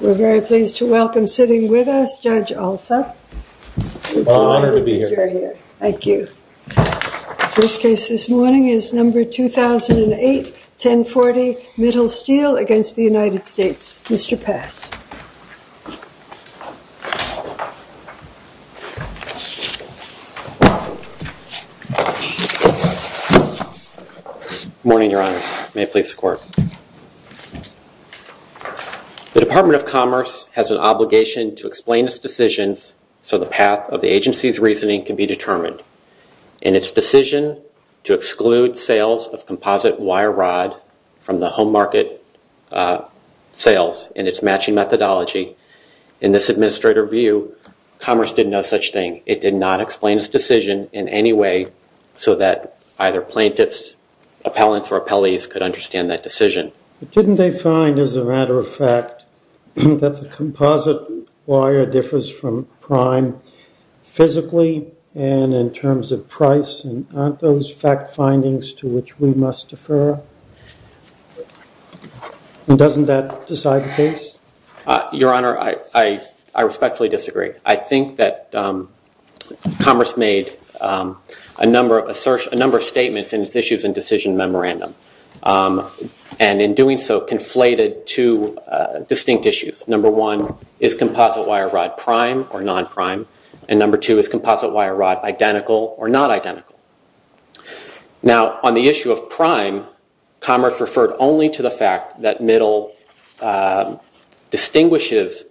We're very pleased to welcome sitting with us, Judge Alsop. Well, an honor to be here. Thank you. The first case this morning is number 2008, 1040, Mittal Steel v. United States. Mr. Pass. May it please the Court. The Department of Commerce has an obligation to explain its decisions so the path of the agency's reasoning can be determined. In its decision to exclude sales of composite wire rod from the home market sales in its matching methodology, in this administrator view, Commerce did no such thing. It did not explain its decision in any way so that either plaintiffs, appellants or appellees could understand that decision. Didn't they find, as a matter of fact, that the composite wire differs from prime physically and in terms of price? Aren't those fact findings to which we must defer? Doesn't that decide the case? Your Honor, I respectfully disagree. I think that Commerce made a number of statements in its issues and decision memorandum and in doing so conflated two distinct issues. Number one, is composite wire rod prime or non-prime? And number two, is composite wire rod identical or not identical? Now, on the issue of prime, Commerce referred only to the fact that Middle distinguishes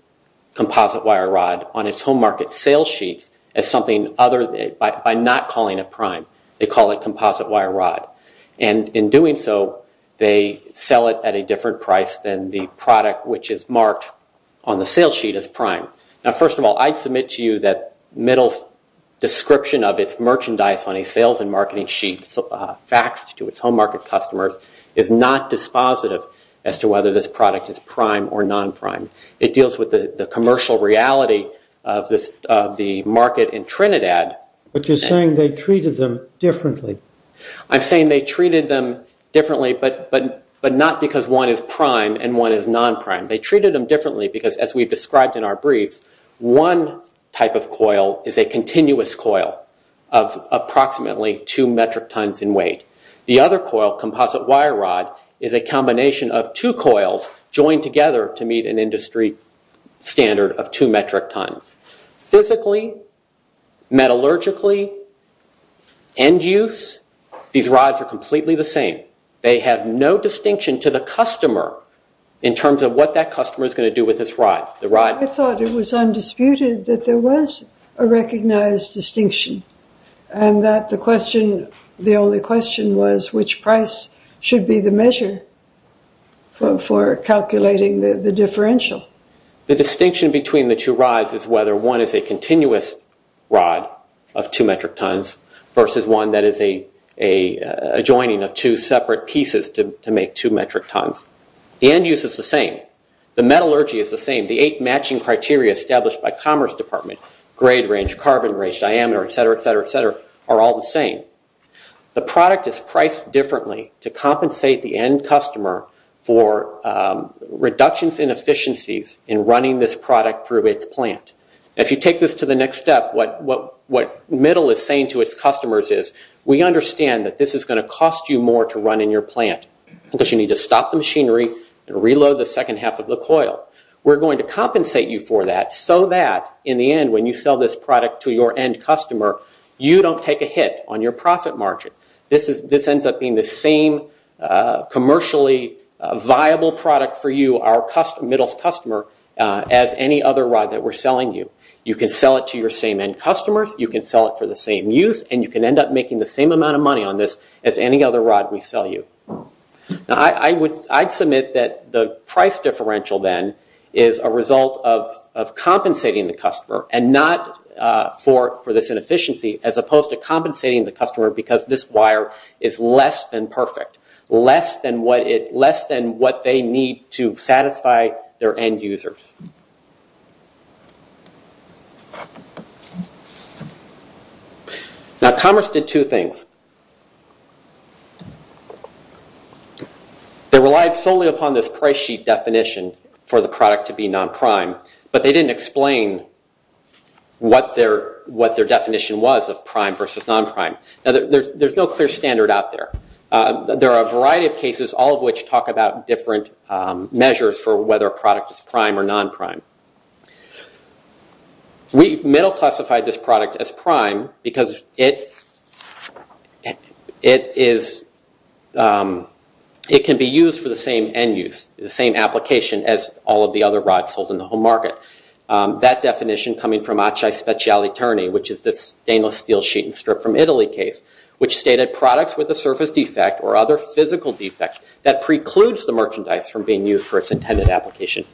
composite wire rod on its home market sales sheets by not calling it prime. They call it composite wire rod. And in doing so, they sell it at a different price than the product which is marked on the sales sheet as prime. Now, first of all, I'd submit to you that Middle's description of its merchandise on a sales and marketing sheet faxed to its home market customers is not dispositive as to whether this product is prime or non-prime. It deals with the commercial reality of the market in Trinidad. But you're saying they treated them differently. I'm saying they treated them differently, but not because one is prime and one is non-prime. They treated them differently because, as we described in our brief, one type of coil is a continuous coil of approximately two metric tons in weight. The other coil, composite wire rod, is a combination of two coils joined together to meet an industry standard of two metric tons. Physically, metallurgically, end use, these rods are completely the same. They have no distinction to the customer in terms of what that customer is going to do with this rod. I thought it was undisputed that there was a recognized distinction and that the only question was which price should be the measure for calculating the differential. The distinction between the two rods is whether one is a continuous rod of two metric tons versus one that is a joining of two separate pieces to make two metric tons. The end use is the same. The metallurgy is the same. The eight matching criteria established by Commerce Department, grade range, carbon range, diameter, et cetera, et cetera, et cetera, are all the same. The product is priced differently to compensate the end customer for reductions in efficiencies in running this product through its plant. If you take this to the next step, what Middle is saying to its customers is we understand that this is going to cost you more to run in your plant because you need to stop the machinery and reload the second half of the coil. We're going to compensate you for that so that, in the end, when you sell this product to your end customer, you don't take a hit on your profit margin. This ends up being the same commercially viable product for you, our Middle's customer, as any other rod that we're selling you. You can sell it to your same end customers, you can sell it for the same use, and you can end up making the same amount of money on this as any other rod we sell you. I'd submit that the price differential, then, is a result of compensating the customer and not for this inefficiency, as opposed to compensating the customer because this wire is less than perfect, less than what they need to satisfy their end users. Now, Commerce did two things. They relied solely upon this price sheet definition for the product to be non-prime, but they didn't explain what their definition was of prime versus non-prime. There's no clear standard out there. There are a variety of cases, all of which talk about different measures for whether a product is prime or non-prime. Middle classified this product as prime because it can be used for the same end use, the same application as all of the other rods sold in the home market. That definition coming from Acce Speciale Terni, which is this stainless steel sheet and strip from Italy case, which stated products with a surface defect or other physical defects that precludes the merchandise from being used for its intended application,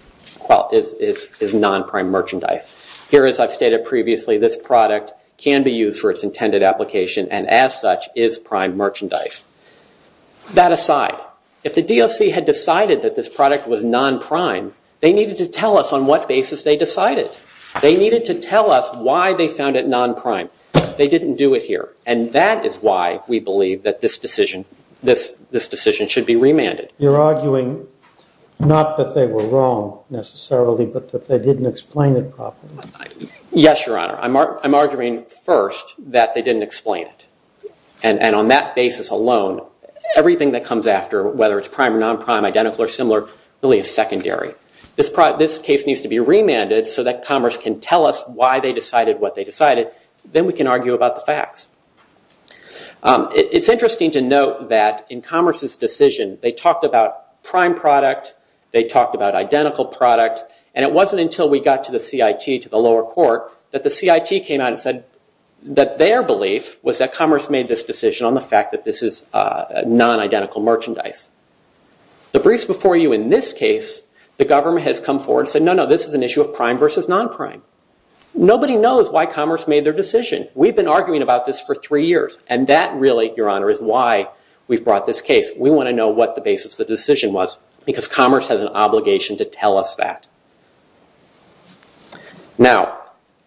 is non-prime merchandise. Here, as I've stated previously, this product can be used for its intended application and, as such, is prime merchandise. That aside, if the DOC had decided that this product was non-prime, they needed to tell us on what basis they decided. They needed to tell us why they found it non-prime. They didn't do it here. And that is why we believe that this decision should be remanded. You're arguing not that they were wrong, necessarily, but that they didn't explain it properly. Yes, Your Honor. I'm arguing, first, that they didn't explain it. And on that basis alone, everything that comes after, whether it's prime or non-prime, identical or similar, really is secondary. This case needs to be remanded so that commerce can tell us why they decided what they decided. Then we can argue about the facts. It's interesting to note that in commerce's decision, they talked about prime product, they talked about identical product, and it wasn't until we got to the CIT, to the lower court, that the CIT came out and said that their belief was that commerce made this decision on the fact that this is non-identical merchandise. The briefs before you in this case, the government has come forward and said, no, no, this is an issue of prime versus non-prime. Nobody knows why commerce made their decision. We've been arguing about this for three years. And that, really, Your Honor, is why we've brought this case. We want to know what the basis of the decision was because commerce has an obligation to tell us that. Now,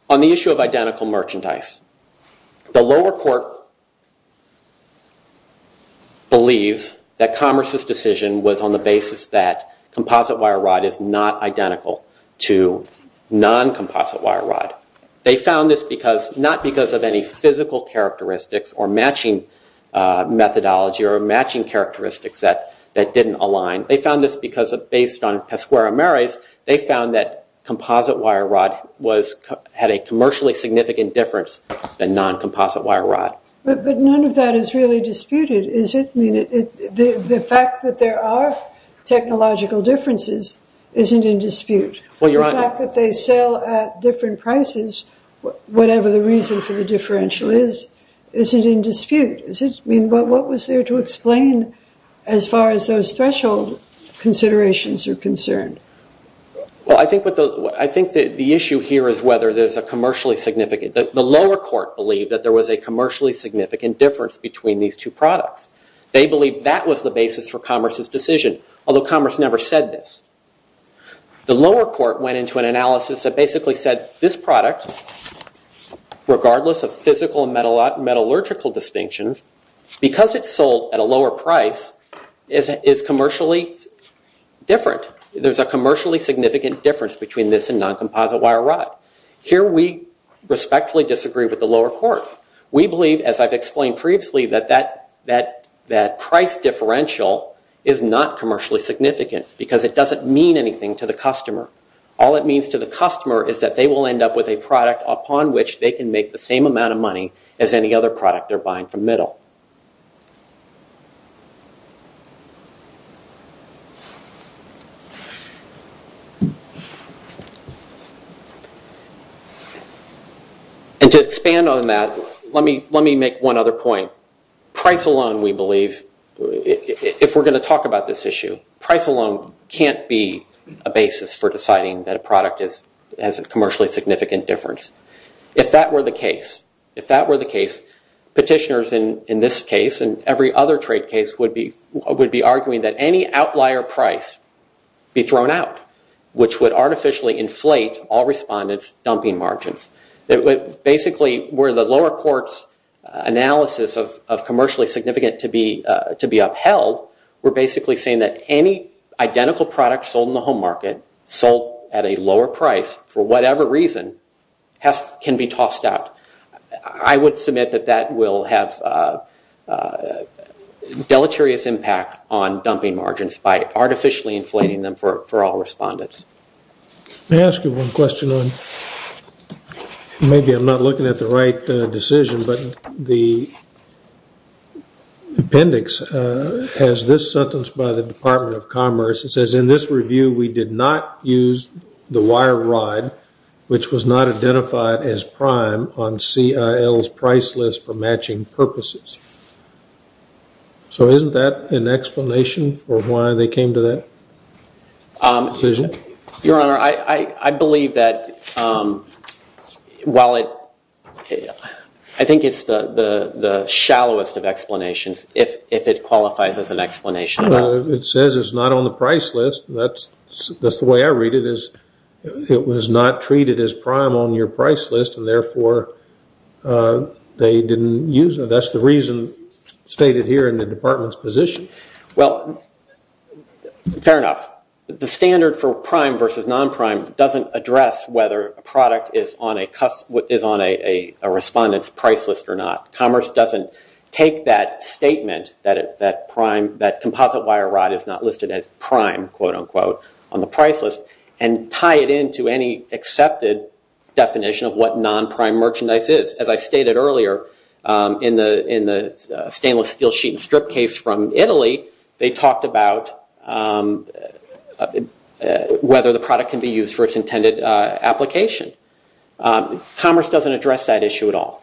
on the issue of identical merchandise, the lower court believes that commerce's decision was on the basis that it was non-composite wire rod. They found this not because of any physical characteristics or matching methodology or matching characteristics that didn't align. They found this because, based on Pesquero-Mares, they found that composite wire rod had a commercially significant difference than non-composite wire rod. But none of that is really disputed, is it? The fact that there are technological differences isn't in dispute. The fact that they sell at different prices, whatever the reason for the differential is, isn't in dispute. What was there to explain as far as those threshold considerations are concerned? Well, I think the issue here is whether there's a commercially significant. The lower court believed that there was a commercially significant difference between these two products. They believed that was the basis for commerce's decision, although commerce never said this. The lower court went into an analysis that basically said, this product, regardless of physical and metallurgical distinctions, because it's sold at a lower price, is commercially different. There's a commercially significant difference between this and non-composite wire rod. Here we respectfully disagree with the lower court. We believe, as I've explained previously, that that price differential is not commercially significant because it doesn't mean anything to the customer. All it means to the customer is that they will end up with a product upon which they can make the same amount of money as any other product they're buying from Middle. And to expand on that, let me make one other point. Price alone, we believe, if we're going to talk about this issue, price alone can't be a basis for deciding that a product has a commercially significant difference. If that were the case, petitioners in this case and every other trade case would be arguing that any outlier price be thrown out, which would artificially inflate all respondents' dumping margins. Basically, were the lower court's analysis of commercially significant to be upheld, we're basically saying that any identical product sold in the home market, sold at a lower price, for whatever reason, can be tossed out. I would submit that that will have deleterious impact on dumping margins by artificially inflating them for all respondents. May I ask you one question? Maybe I'm not looking at the right decision, but the appendix has this sentence by the Department of Commerce. It says, in this review, we did not use the wire rod, which was not identified as prime, on CIL's price list for matching purposes. So isn't that an explanation for why they came to that decision? Your Honor, I believe that while it... I think it's the shallowest of explanations, if it qualifies as an explanation. It says it's not on the price list. That's the way I read it. It was not treated as prime on your price list, and therefore they didn't use it. That's the reason stated here in the Department's position. Fair enough. The standard for prime versus non-prime doesn't address whether a product is on a respondent's price list or not. Commerce doesn't take that statement, that composite wire rod is not listed as prime, quote-unquote, on the price list, and tie it into any accepted definition of what non-prime merchandise is. As I stated earlier in the stainless steel sheet and strip case from Italy, they talked about whether the product can be used for its intended application. Commerce doesn't address that issue at all.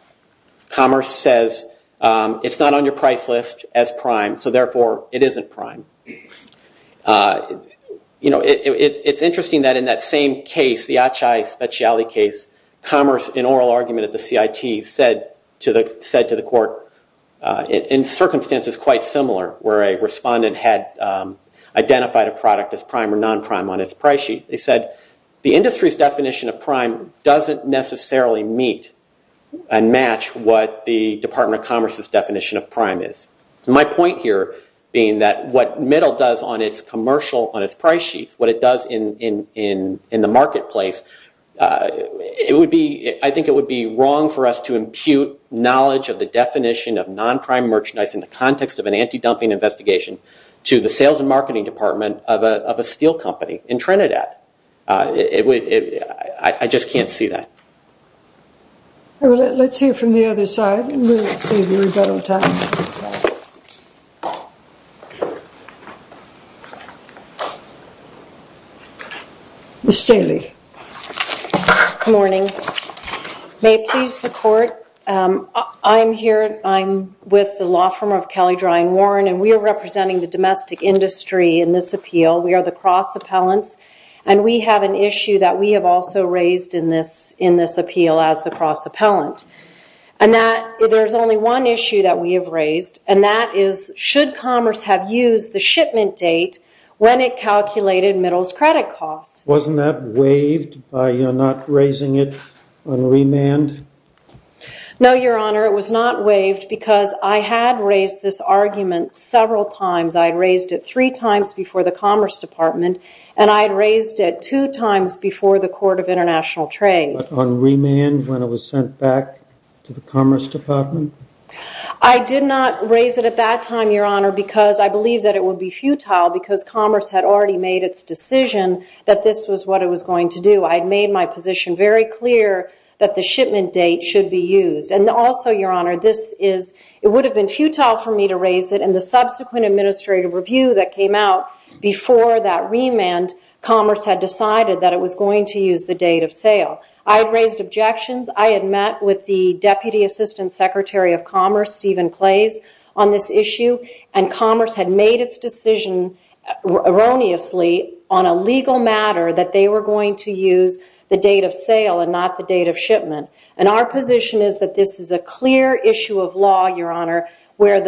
Commerce says it's not on your price list as prime, so therefore it isn't prime. It's interesting that in that same case, the Acai Speciale case, Commerce, in oral argument at the CIT, said to the court, in circumstances quite similar where a respondent had identified a product as prime or non-prime on its price sheet, they said the industry's definition of prime doesn't necessarily meet and match what the Department of Commerce's definition of prime is. My point here being that what middle does on its commercial, on its price sheet, what it does in the marketplace, I think it would be wrong for us to impute knowledge of the definition of non-prime merchandise in the context of an anti-dumping investigation to the sales and marketing department of a steel company in Trinidad. I just can't see that. Let's hear from the other side. We'll save you a little time. Ms. Daly. Good morning. May it please the court, I'm here, I'm with the law firm of Kelly, Dry and Warren, and we are representing the domestic industry in this appeal. We are the cross-appellants, and we have an issue that we have also raised in this appeal as the cross-appellant. And there's only one issue that we have raised, and that is should commerce have used the shipment date when it calculated middle's credit costs? Wasn't that waived by not raising it on remand? No, Your Honor, it was not waived because I had raised this argument several times. I had raised it three times before the Commerce Department, and I had raised it two times before the Court of International Trade. On remand when it was sent back to the Commerce Department? I did not raise it at that time, Your Honor, because I believed that it would be futile because commerce had already made its decision that this was what it was going to do. I had made my position very clear that the shipment date should be used. And also, Your Honor, it would have been futile for me to raise it, and the subsequent administrative review that came out before that remand, I had raised objections. I had met with the Deputy Assistant Secretary of Commerce, Stephen Clays, on this issue, and commerce had made its decision erroneously on a legal matter that they were going to use the date of sale and not the date of shipment. And our position is that this is a clear issue of law, Your Honor, where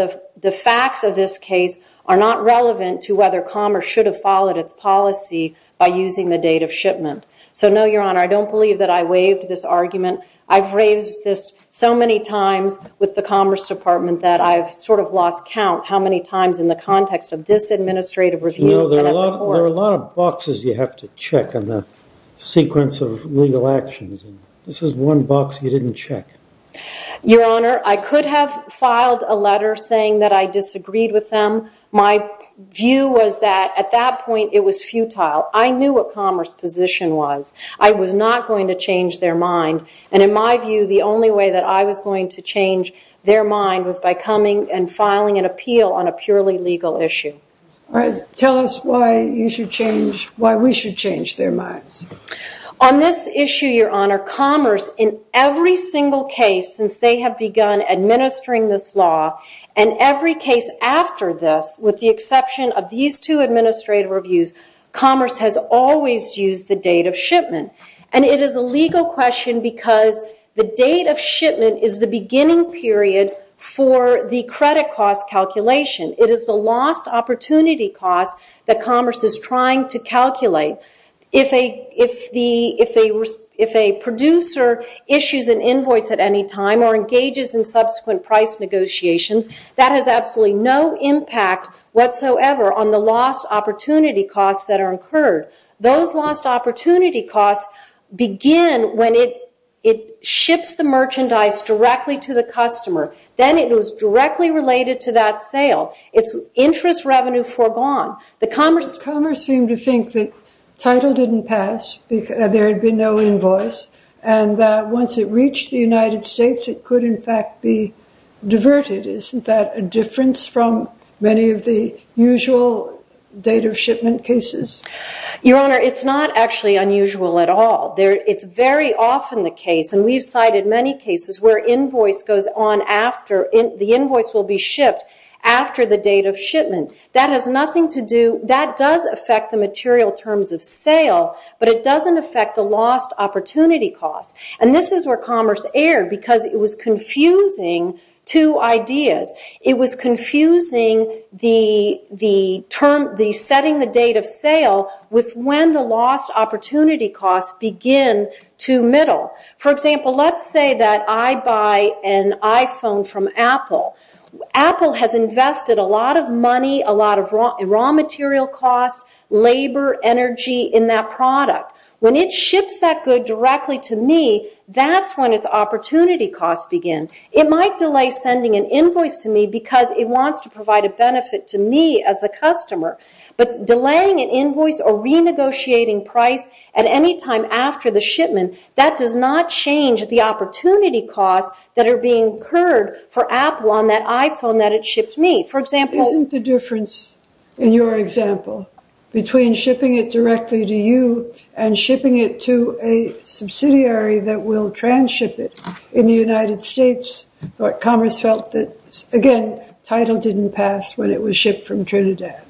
the facts of this case are not relevant to whether commerce should have followed its policy by using the date of shipment. So no, Your Honor, I don't believe that I waived this argument. I've raised this so many times with the Commerce Department that I've sort of lost count how many times in the context of this administrative review. You know, there are a lot of boxes you have to check on the sequence of legal actions. This is one box you didn't check. Your Honor, I could have filed a letter saying that I disagreed with them. My view was that at that point it was futile. I knew what Commerce's position was. I was not going to change their mind. And in my view, the only way that I was going to change their mind was by coming and filing an appeal on a purely legal issue. All right, tell us why you should change, why we should change their minds. On this issue, Your Honor, Commerce, in every single case since they have begun administering this law, and every case after this with the exception of these two administrative reviews, Commerce has always used the date of shipment. And it is a legal question because the date of shipment is the beginning period for the credit cost calculation. It is the lost opportunity cost that Commerce is trying to calculate. If a producer issues an invoice at any time or engages in subsequent price negotiations, that has absolutely no impact whatsoever on the lost opportunity costs that are incurred. Those lost opportunity costs begin when it ships the merchandise directly to the customer. Then it is directly related to that sale. It's interest revenue foregone. Commerce seemed to think that title didn't pass, there had been no invoice, and that once it reached the United States it could, in fact, be diverted. Isn't that a difference from many of the usual date of shipment cases? Your Honor, it's not actually unusual at all. It's very often the case, and we've cited many cases, where the invoice will be shipped after the date of shipment. That does affect the material terms of sale, but it doesn't affect the lost opportunity costs. This is where Commerce erred, because it was confusing two ideas. It was confusing setting the date of sale with when the lost opportunity costs begin to middle. For example, let's say that I buy an iPhone from Apple. Apple has invested a lot of money, a lot of raw material costs, labor, energy in that product. When it ships that good directly to me, that's when its opportunity costs begin. It might delay sending an invoice to me because it wants to provide a benefit to me as the customer, but delaying an invoice or renegotiating price at any time after the shipment, that does not change the opportunity costs that are being incurred for Apple on that iPhone that it shipped me. Isn't the difference in your example between shipping it directly to you and shipping it to a subsidiary that will transship it in the United States? Commerce felt that, again, title didn't pass when it was shipped from Trinidad.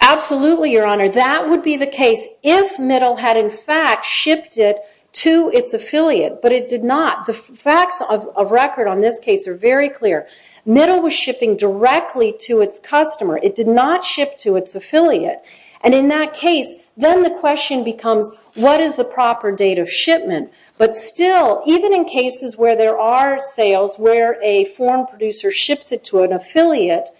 Absolutely, Your Honor. That would be the case if Middle had in fact shipped it to its affiliate, but it did not. The facts of record on this case are very clear. Middle was shipping directly to its customer. It did not ship to its affiliate. In that case, then the question becomes, what is the proper date of shipment? But still, even in cases where there are sales where a foreign producer ships it to an affiliate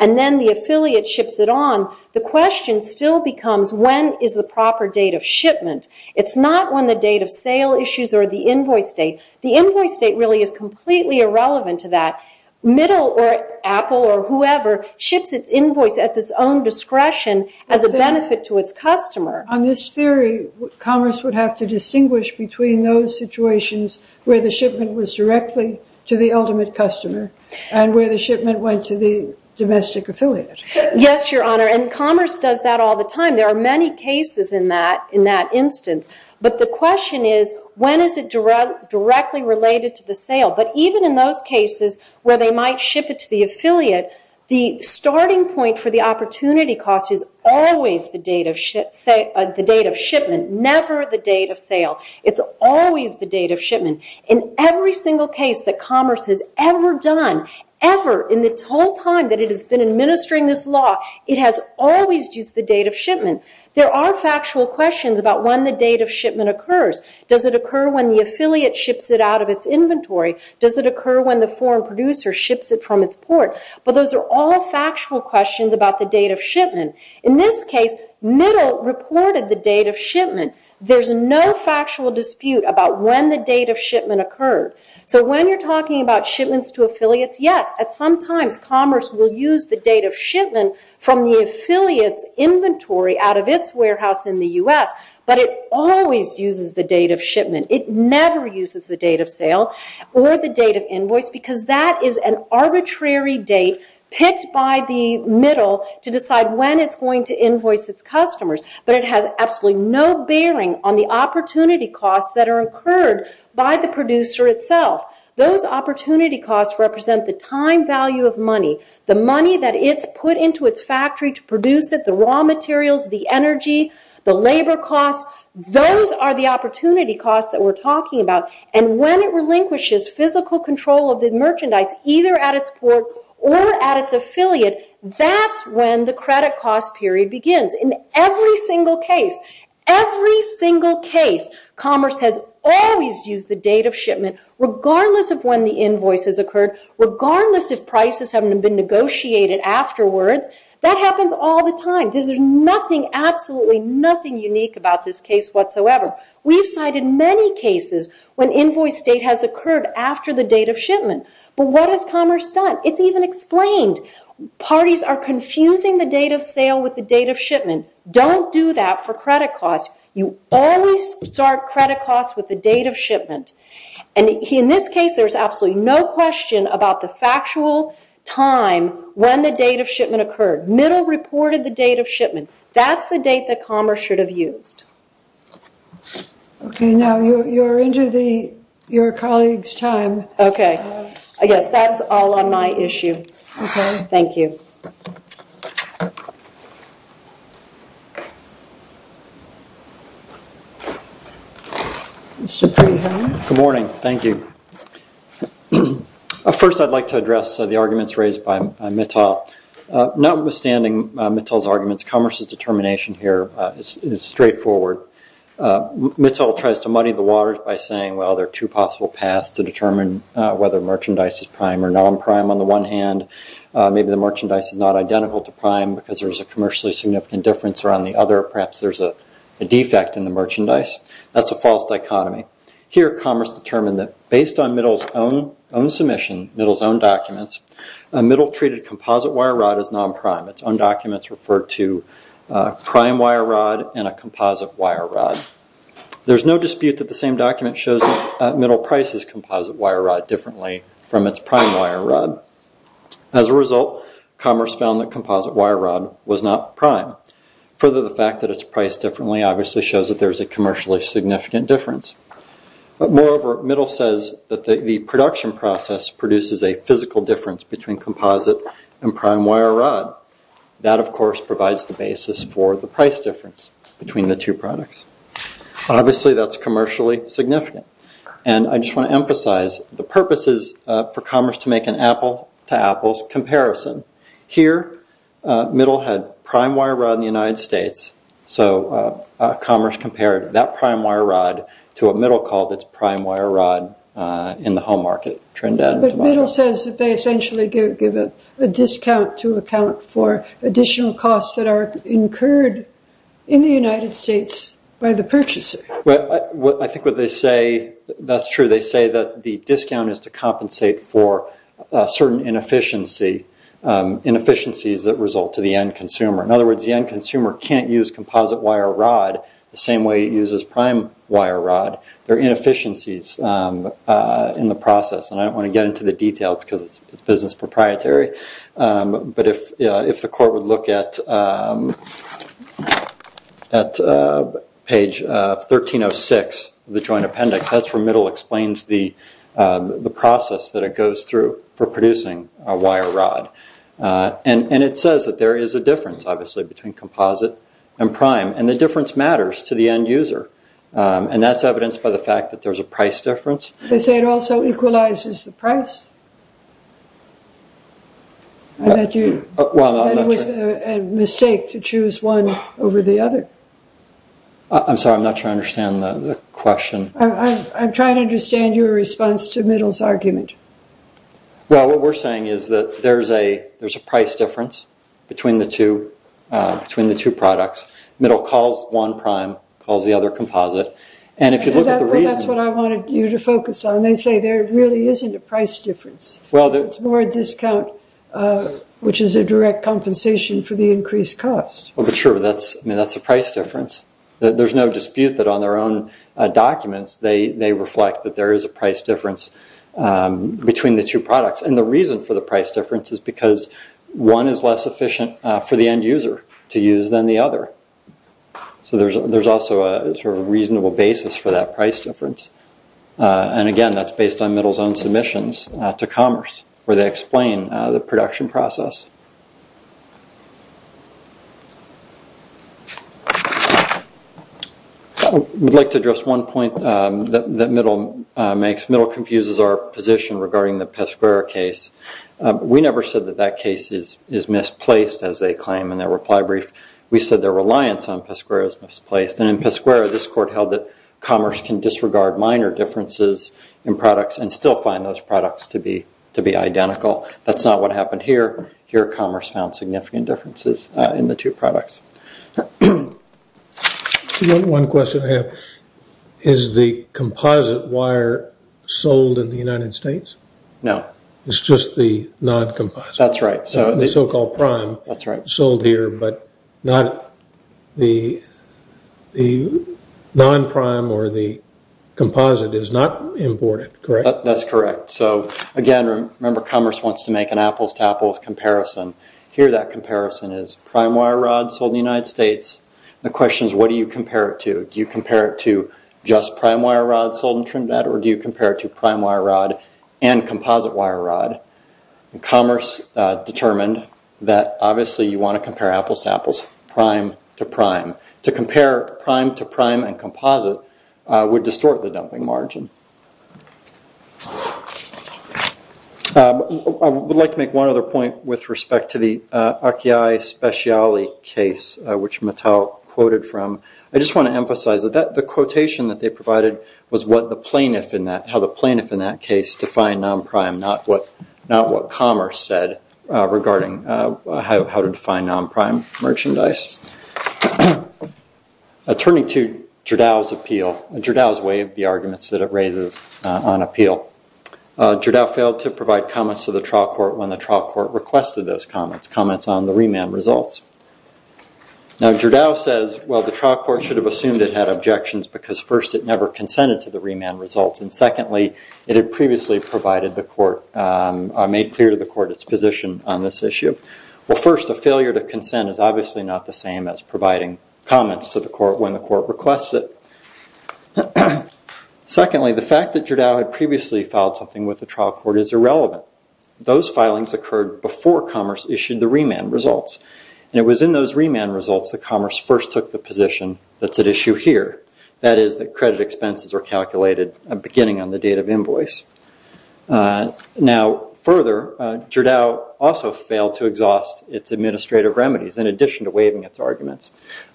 and then the affiliate ships it on, the question still becomes, when is the proper date of shipment? It's not when the date of sale issues or the invoice date. The invoice date really is completely irrelevant to that. Middle or Apple or whoever ships its invoice at its own discretion as a benefit to its customer. On this theory, Commerce would have to distinguish between those situations where the shipment was directly to the ultimate customer and where the shipment went to the domestic affiliate. Yes, Your Honor, and Commerce does that all the time. There are many cases in that instance. But the question is, when is it directly related to the sale? But even in those cases where they might ship it to the affiliate, the starting point for the opportunity cost is always the date of shipment, never the date of sale. It's always the date of shipment. In every single case that Commerce has ever done, ever, in its whole time that it has been administering this law, it has always used the date of shipment. There are factual questions about when the date of shipment occurs. Does it occur when the affiliate ships it out of its inventory? Does it occur when the foreign producer ships it from its port? But those are all factual questions about the date of shipment. In this case, Middle reported the date of shipment. There's no factual dispute about when the date of shipment occurred. So when you're talking about shipments to affiliates, yes, at some times, Commerce will use the date of shipment from the affiliate's inventory out of its warehouse in the U.S., but it always uses the date of shipment. It never uses the date of sale or the date of invoice because that is an arbitrary date picked by the Middle to decide when it's going to invoice its customers. But it has absolutely no bearing on the opportunity costs that are incurred by the producer itself. Those opportunity costs represent the time value of money, the money that it's put into its factory to produce it, the raw materials, the energy, the labor costs. Those are the opportunity costs that we're talking about. And when it relinquishes physical control of the merchandise, either at its port or at its affiliate, that's when the credit cost period begins. In every single case, every single case, Commerce has always used the date of shipment, regardless of when the invoice has occurred, regardless if prices haven't been negotiated afterwards. That happens all the time. There's nothing, absolutely nothing unique about this case whatsoever. We've cited many cases when invoice date has occurred after the date of shipment. But what has Commerce done? It's even explained. Parties are confusing the date of sale with the date of shipment. Don't do that for credit costs. You always start credit costs with the date of shipment. In this case, there's absolutely no question about the factual time when the date of shipment occurred. Middle reported the date of shipment. That's the date that Commerce should have used. Okay, now you're into your colleague's time. Okay. Yes, that's all on my issue. Okay. Thank you. Good morning. Thank you. First, I'd like to address the arguments raised by Mittal. Notwithstanding Mittal's arguments, Commerce's determination here is straightforward. Mittal tries to muddy the waters by saying, well, there are two possible paths to determine whether merchandise is prime or non-prime on the one hand. Maybe the merchandise is not identical to prime because there's a commercially significant difference around the other. Perhaps there's a defect in the merchandise. That's a false dichotomy. Here, Commerce determined that based on Middle's own submission, Middle's own documents, Middle treated composite wire rod as non-prime. Its own documents refer to prime wire rod and a composite wire rod. There's no dispute that the same document shows that Middle prices composite wire rod differently from its prime wire rod. As a result, Commerce found that composite wire rod was not prime. Further, the fact that it's priced differently obviously shows that there's a commercially significant difference. Moreover, Middle says that the production process produces a physical difference between composite and prime wire rod. That, of course, provides the basis for the price difference between the two products. Obviously, that's commercially significant. I just want to emphasize the purposes for Commerce to make an apple-to-apples comparison. Here, Middle had prime wire rod in the United States, so Commerce compared that prime wire rod to a Middle call that's prime wire rod in the home market. But Middle says that they essentially give a discount to account for additional costs that are incurred in the United States by the purchaser. I think what they say, that's true, they say that the discount is to compensate for certain inefficiencies that result to the end consumer. In other words, the end consumer can't use composite wire rod the same way it uses prime wire rod. There are inefficiencies in the process, and I don't want to get into the detail because it's business proprietary, but if the court would look at page 1306, the joint appendix, that's where Middle explains the process that it goes through for producing a wire rod. It says that there is a difference, obviously, between composite and prime, and the difference matters to the end user. That's evidenced by the fact that there's a price difference. They say it also equalizes the price. That it was a mistake to choose one over the other. I'm sorry, I'm not sure I understand the question. I'm trying to understand your response to Middle's argument. Well, what we're saying is that there's a price difference between the two products. Middle calls one prime, calls the other composite. That's what I wanted you to focus on. They say there really isn't a price difference. It's more a discount, which is a direct compensation for the increased cost. Sure, that's a price difference. There's no dispute that on their own documents they reflect that there is a price difference between the two products, and the reason for the price difference is because one is less efficient for the end user to use than the other. There's also a reasonable basis for that price difference, and again, that's based on Middle's own submissions to Commerce where they explain the production process. I'd like to address one point that Middle makes. Middle confuses our position regarding the Pesquero case. We never said that that case is misplaced, as they claim in their reply brief. We said their reliance on Pesquero is misplaced, and in Pesquero, this court held that Commerce can disregard minor differences in products and still find those products to be identical. That's not what happened here. Here, Commerce found significant differences in the two products. One question I have. Is the composite wire sold in the United States? No. It's just the non-composite. That's right. The so-called prime sold here, but the non-prime or the composite is not imported, correct? That's correct. Again, remember, Commerce wants to make an apples-to-apples comparison. Here, that comparison is prime wire rod sold in the United States. The question is, what do you compare it to? Do you compare it to just prime wire rod sold in Trinidad, or do you compare it to prime wire rod and composite wire rod? Commerce determined that, obviously, you want to compare apples-to-apples prime-to-prime. To compare prime-to-prime and composite would distort the dumping margin. I would like to make one other point with respect to the Akiai Speciality case, which Mattel quoted from. I just want to emphasize that the quotation that they provided was how the plaintiff in that case defined non-prime, not what Commerce said regarding how to define non-prime merchandise. Turning to Gerdao's appeal, Gerdao's way of the arguments that it raises on appeal, Gerdao failed to provide comments to the trial court when the trial court requested those comments, comments on the remand results. Now, Gerdao says, well, the trial court should have assumed it had objections because, first, it never consented to the remand results, and, secondly, it had previously provided the court or made clear to the court its position on this issue. Well, first, a failure to consent is obviously not the same as providing comments to the court when the court requests it. Secondly, the fact that Gerdao had previously filed something with the trial court is irrelevant. Those filings occurred before Commerce issued the remand results, and it was in those remand results that Commerce first took the position that's at issue here, that is, that credit expenses are calculated beginning on the date of invoice. Now, further, Gerdao also failed to exhaust its administrative remedies in addition to waiving its arguments.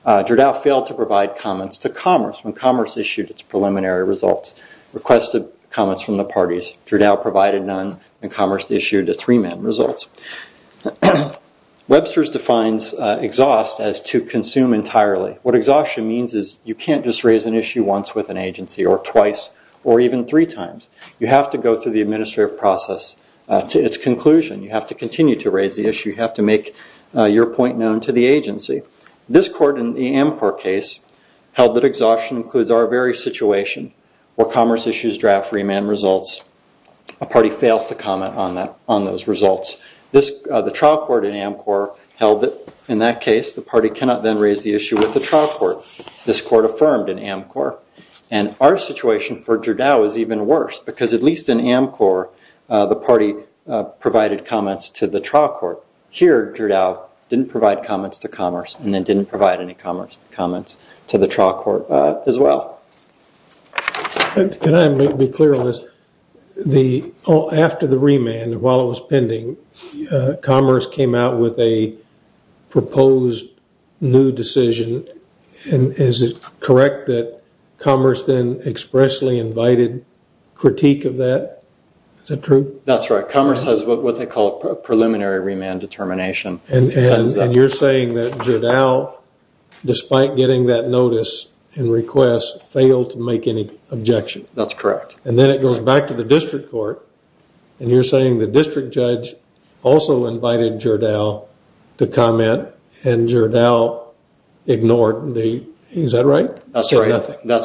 Gerdao failed to provide comments to Commerce when Commerce issued its preliminary results, requested comments from the parties. Gerdao provided none when Commerce issued its remand results. Webster's defines exhaust as to consume entirely. What exhaustion means is you can't just raise an issue once with an agency or twice or even three times. You have to go through the administrative process to its conclusion. You have to continue to raise the issue. You have to make your point known to the agency. This court in the AMCOR case held that exhaustion includes our very situation where Commerce issues draft remand results. A party fails to comment on those results. The trial court in AMCOR held that in that case the party cannot then raise the issue with the trial court. This court affirmed in AMCOR, and our situation for Gerdau is even worse because at least in AMCOR the party provided comments to the trial court. Here, Gerdau did not provide comments to Commerce and did not provide any comments to the trial court as well. Can I make it clear on this? After the remand while it was pending, Commerce came out with a proposed new decision. Is it correct that Commerce then expressly invited critique of that? Is that true? That's right. has what they call preliminary remand determination. You are saying that Gerdau despite getting that notice and request failed to make any objection. That's correct. Then it goes back to the district court. You are saying the district judge also invited Gerdau to comment and Gerdau ignored. Is that right? That's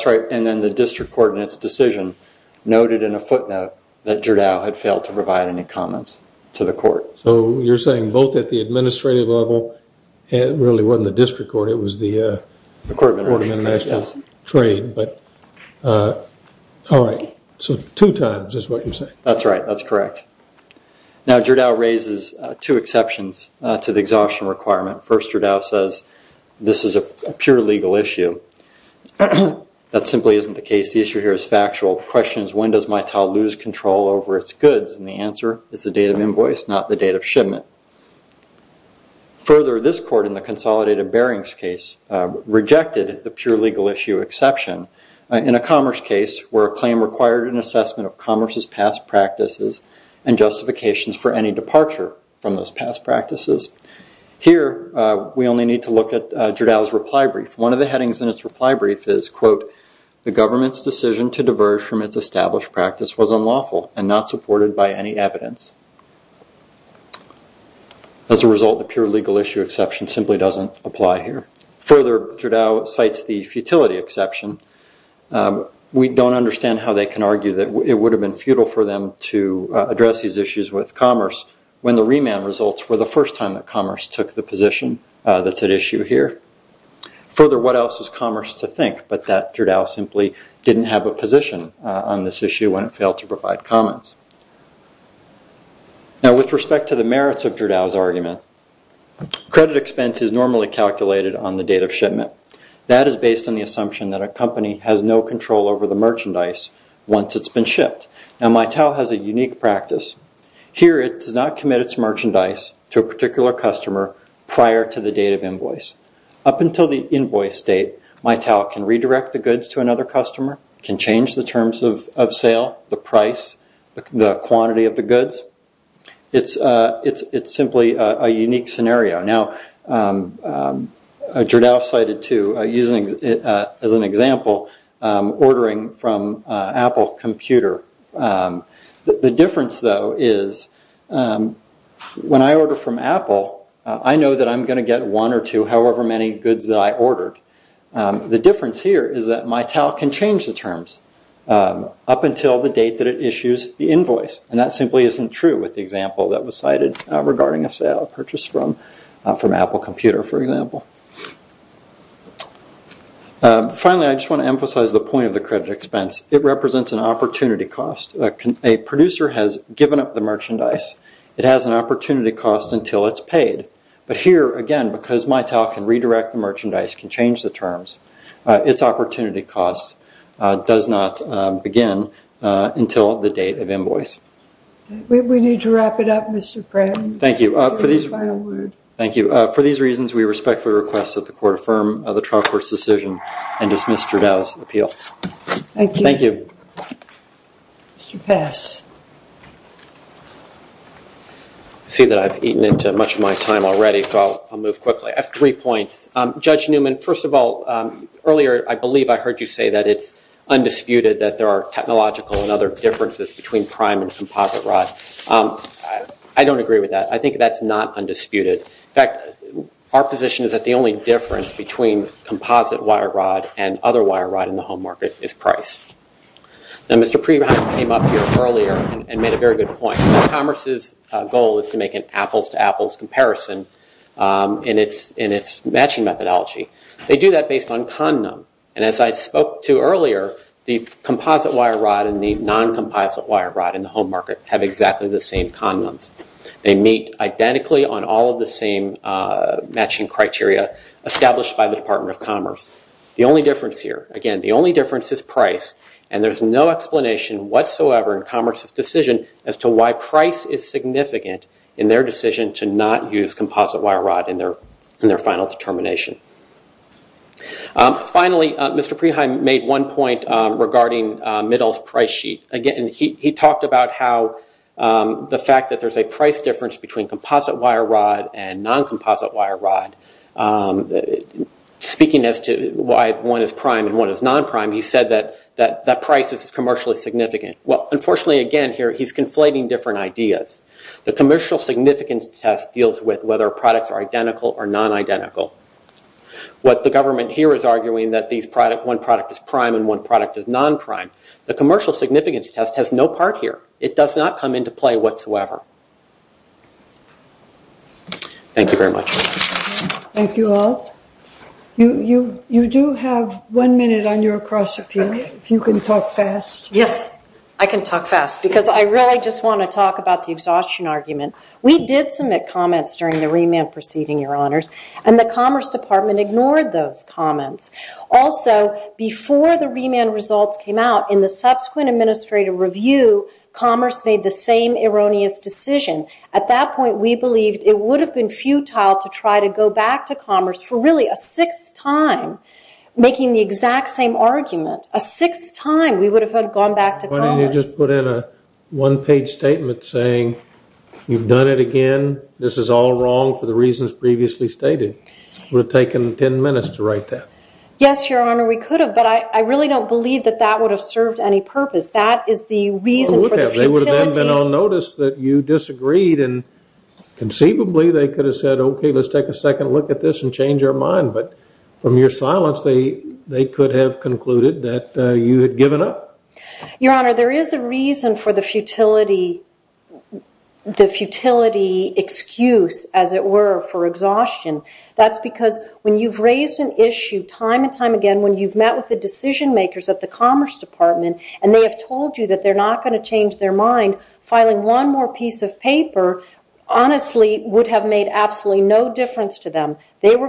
right. Then the district court in its decision noted in a footnote that Gerdau had failed to provide any comments to the court. You are saying both at the time. That's right. That's correct. Gerdau raises two exceptions. First Gerdau says this is a pure legal issue. That simply isn't the case. The issue is factual. Further, this court in the consolidated case rejected the pure legal issue exception in a commerce case. Here we only need to look at Gerdau's reply brief. One of the headings is quote the government's decision was unlawful and not supported by any evidence. As a result, the pure legal issue exception doesn't apply here. We don't understand how they can argue it would have been futile for them to address these issues with commerce when the results were the first time commerce took the step. With respect to the merits of Gerdau's argument, credit expense is normally calculated on the date of shipment. That is based on the assumption that a company has no control over the merchandise once it has been shipped. Here it does not have control over the quantity of the goods. It is simply a unique scenario. Gerdau cited using as an example ordering from Apple computer. The difference is when I order from Apple, I know I will get one or two however many goods I ordered. The difference is Mitel can change the terms up until the date it issues the invoice. That is not true with the example cited. Finally, I want to emphasize the point of the credit expense. It represents an opportunity cost. A company can change the terms. Its opportunity cost does not begin until the date of invoice. We need to wrap it up. Thank you. For these reasons we respectfully request that the court affirm the decision and dismiss Gerdau's appeal. Thank you. Mr. Pass. I see that I have eaten into much of my time already. I have three points. Judge Newman, first of all, earlier I believe I heard you say it is undisputed that there are technological differences between prime and composite rods. I don't agree with that. I think that is not undisputed. Our position is that the only difference is price. Mr. Preheim made a good point. goal is to make an apples-to-apples comparison. They do that based on condom. As I spoke to earlier, the composite rods are made identically on the same criteria. The only difference is price. There is no explanation as to why price is significant in their decision to not use composite rods. Finally, Mr. Preheim made one point regarding composite rods. Speaking as to why one is prime and one is not prime, he said that price is commercially significant. Unfortunately, he is conflating different ideas. The commercial significance test deals with whether products are identical or not. Thank you very much. Thank you all. You do have one minute on your cross appeal, if you can talk fast. Yes, I can talk fast. I want to talk about the exhaustion argument. We did submit comments and the Commerce Department ignored those comments. Also, before the results came out, Commerce made the same erroneous decision. At that point, we believed it would have been futile to go back to Commerce for a sixth time, making the same argument. A sixth time? Yes, Your Honor, we could have, but I don't believe that would have served any purpose. They would have been on notice that you disagreed. From your silence, they could have concluded that you had given up. There is a reason for the futility of the excuse, as it were, for exhaustion. That's because when you've raised an issue time and time again, when you've met with the decision makers at the Commerce Department and they have told you that they're not going to change their mind, filing one of cases is futility. I'm exhausted from raising this argument so many times with the Commerce Department. It would have been futile.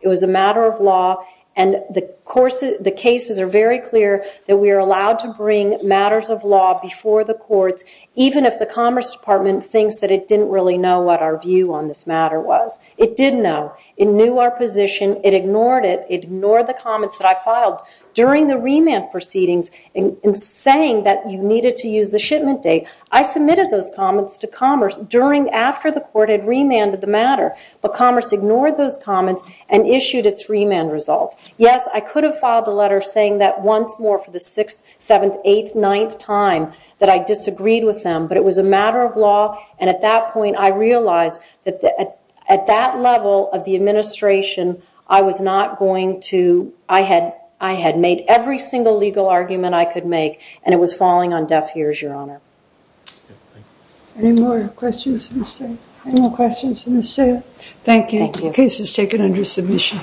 It was a matter of law. The cases are very clear that we are allowed to bring matters of law before the courts, even if the Commerce Department thinks that it didn't really know what our view on this matter was. It did know. It knew our position. It ignored it. It ignored the comments that I filed during the remand proceedings in saying that you needed to use the shipment date. I submitted those comments to Commerce after the court had remanded the matter, but Commerce ignored those comments and issued its remand results. Yes, I could have filed a letter saying that once more for the 6th, 7th, 8th, 9th time that I disagreed with them, but it was a matter of law. At that level of the administration, I had made every single legal argument I could make, and it was falling on deaf ears, Your Honor. Any more questions? Any more questions? Thank you. The case is taken under submission.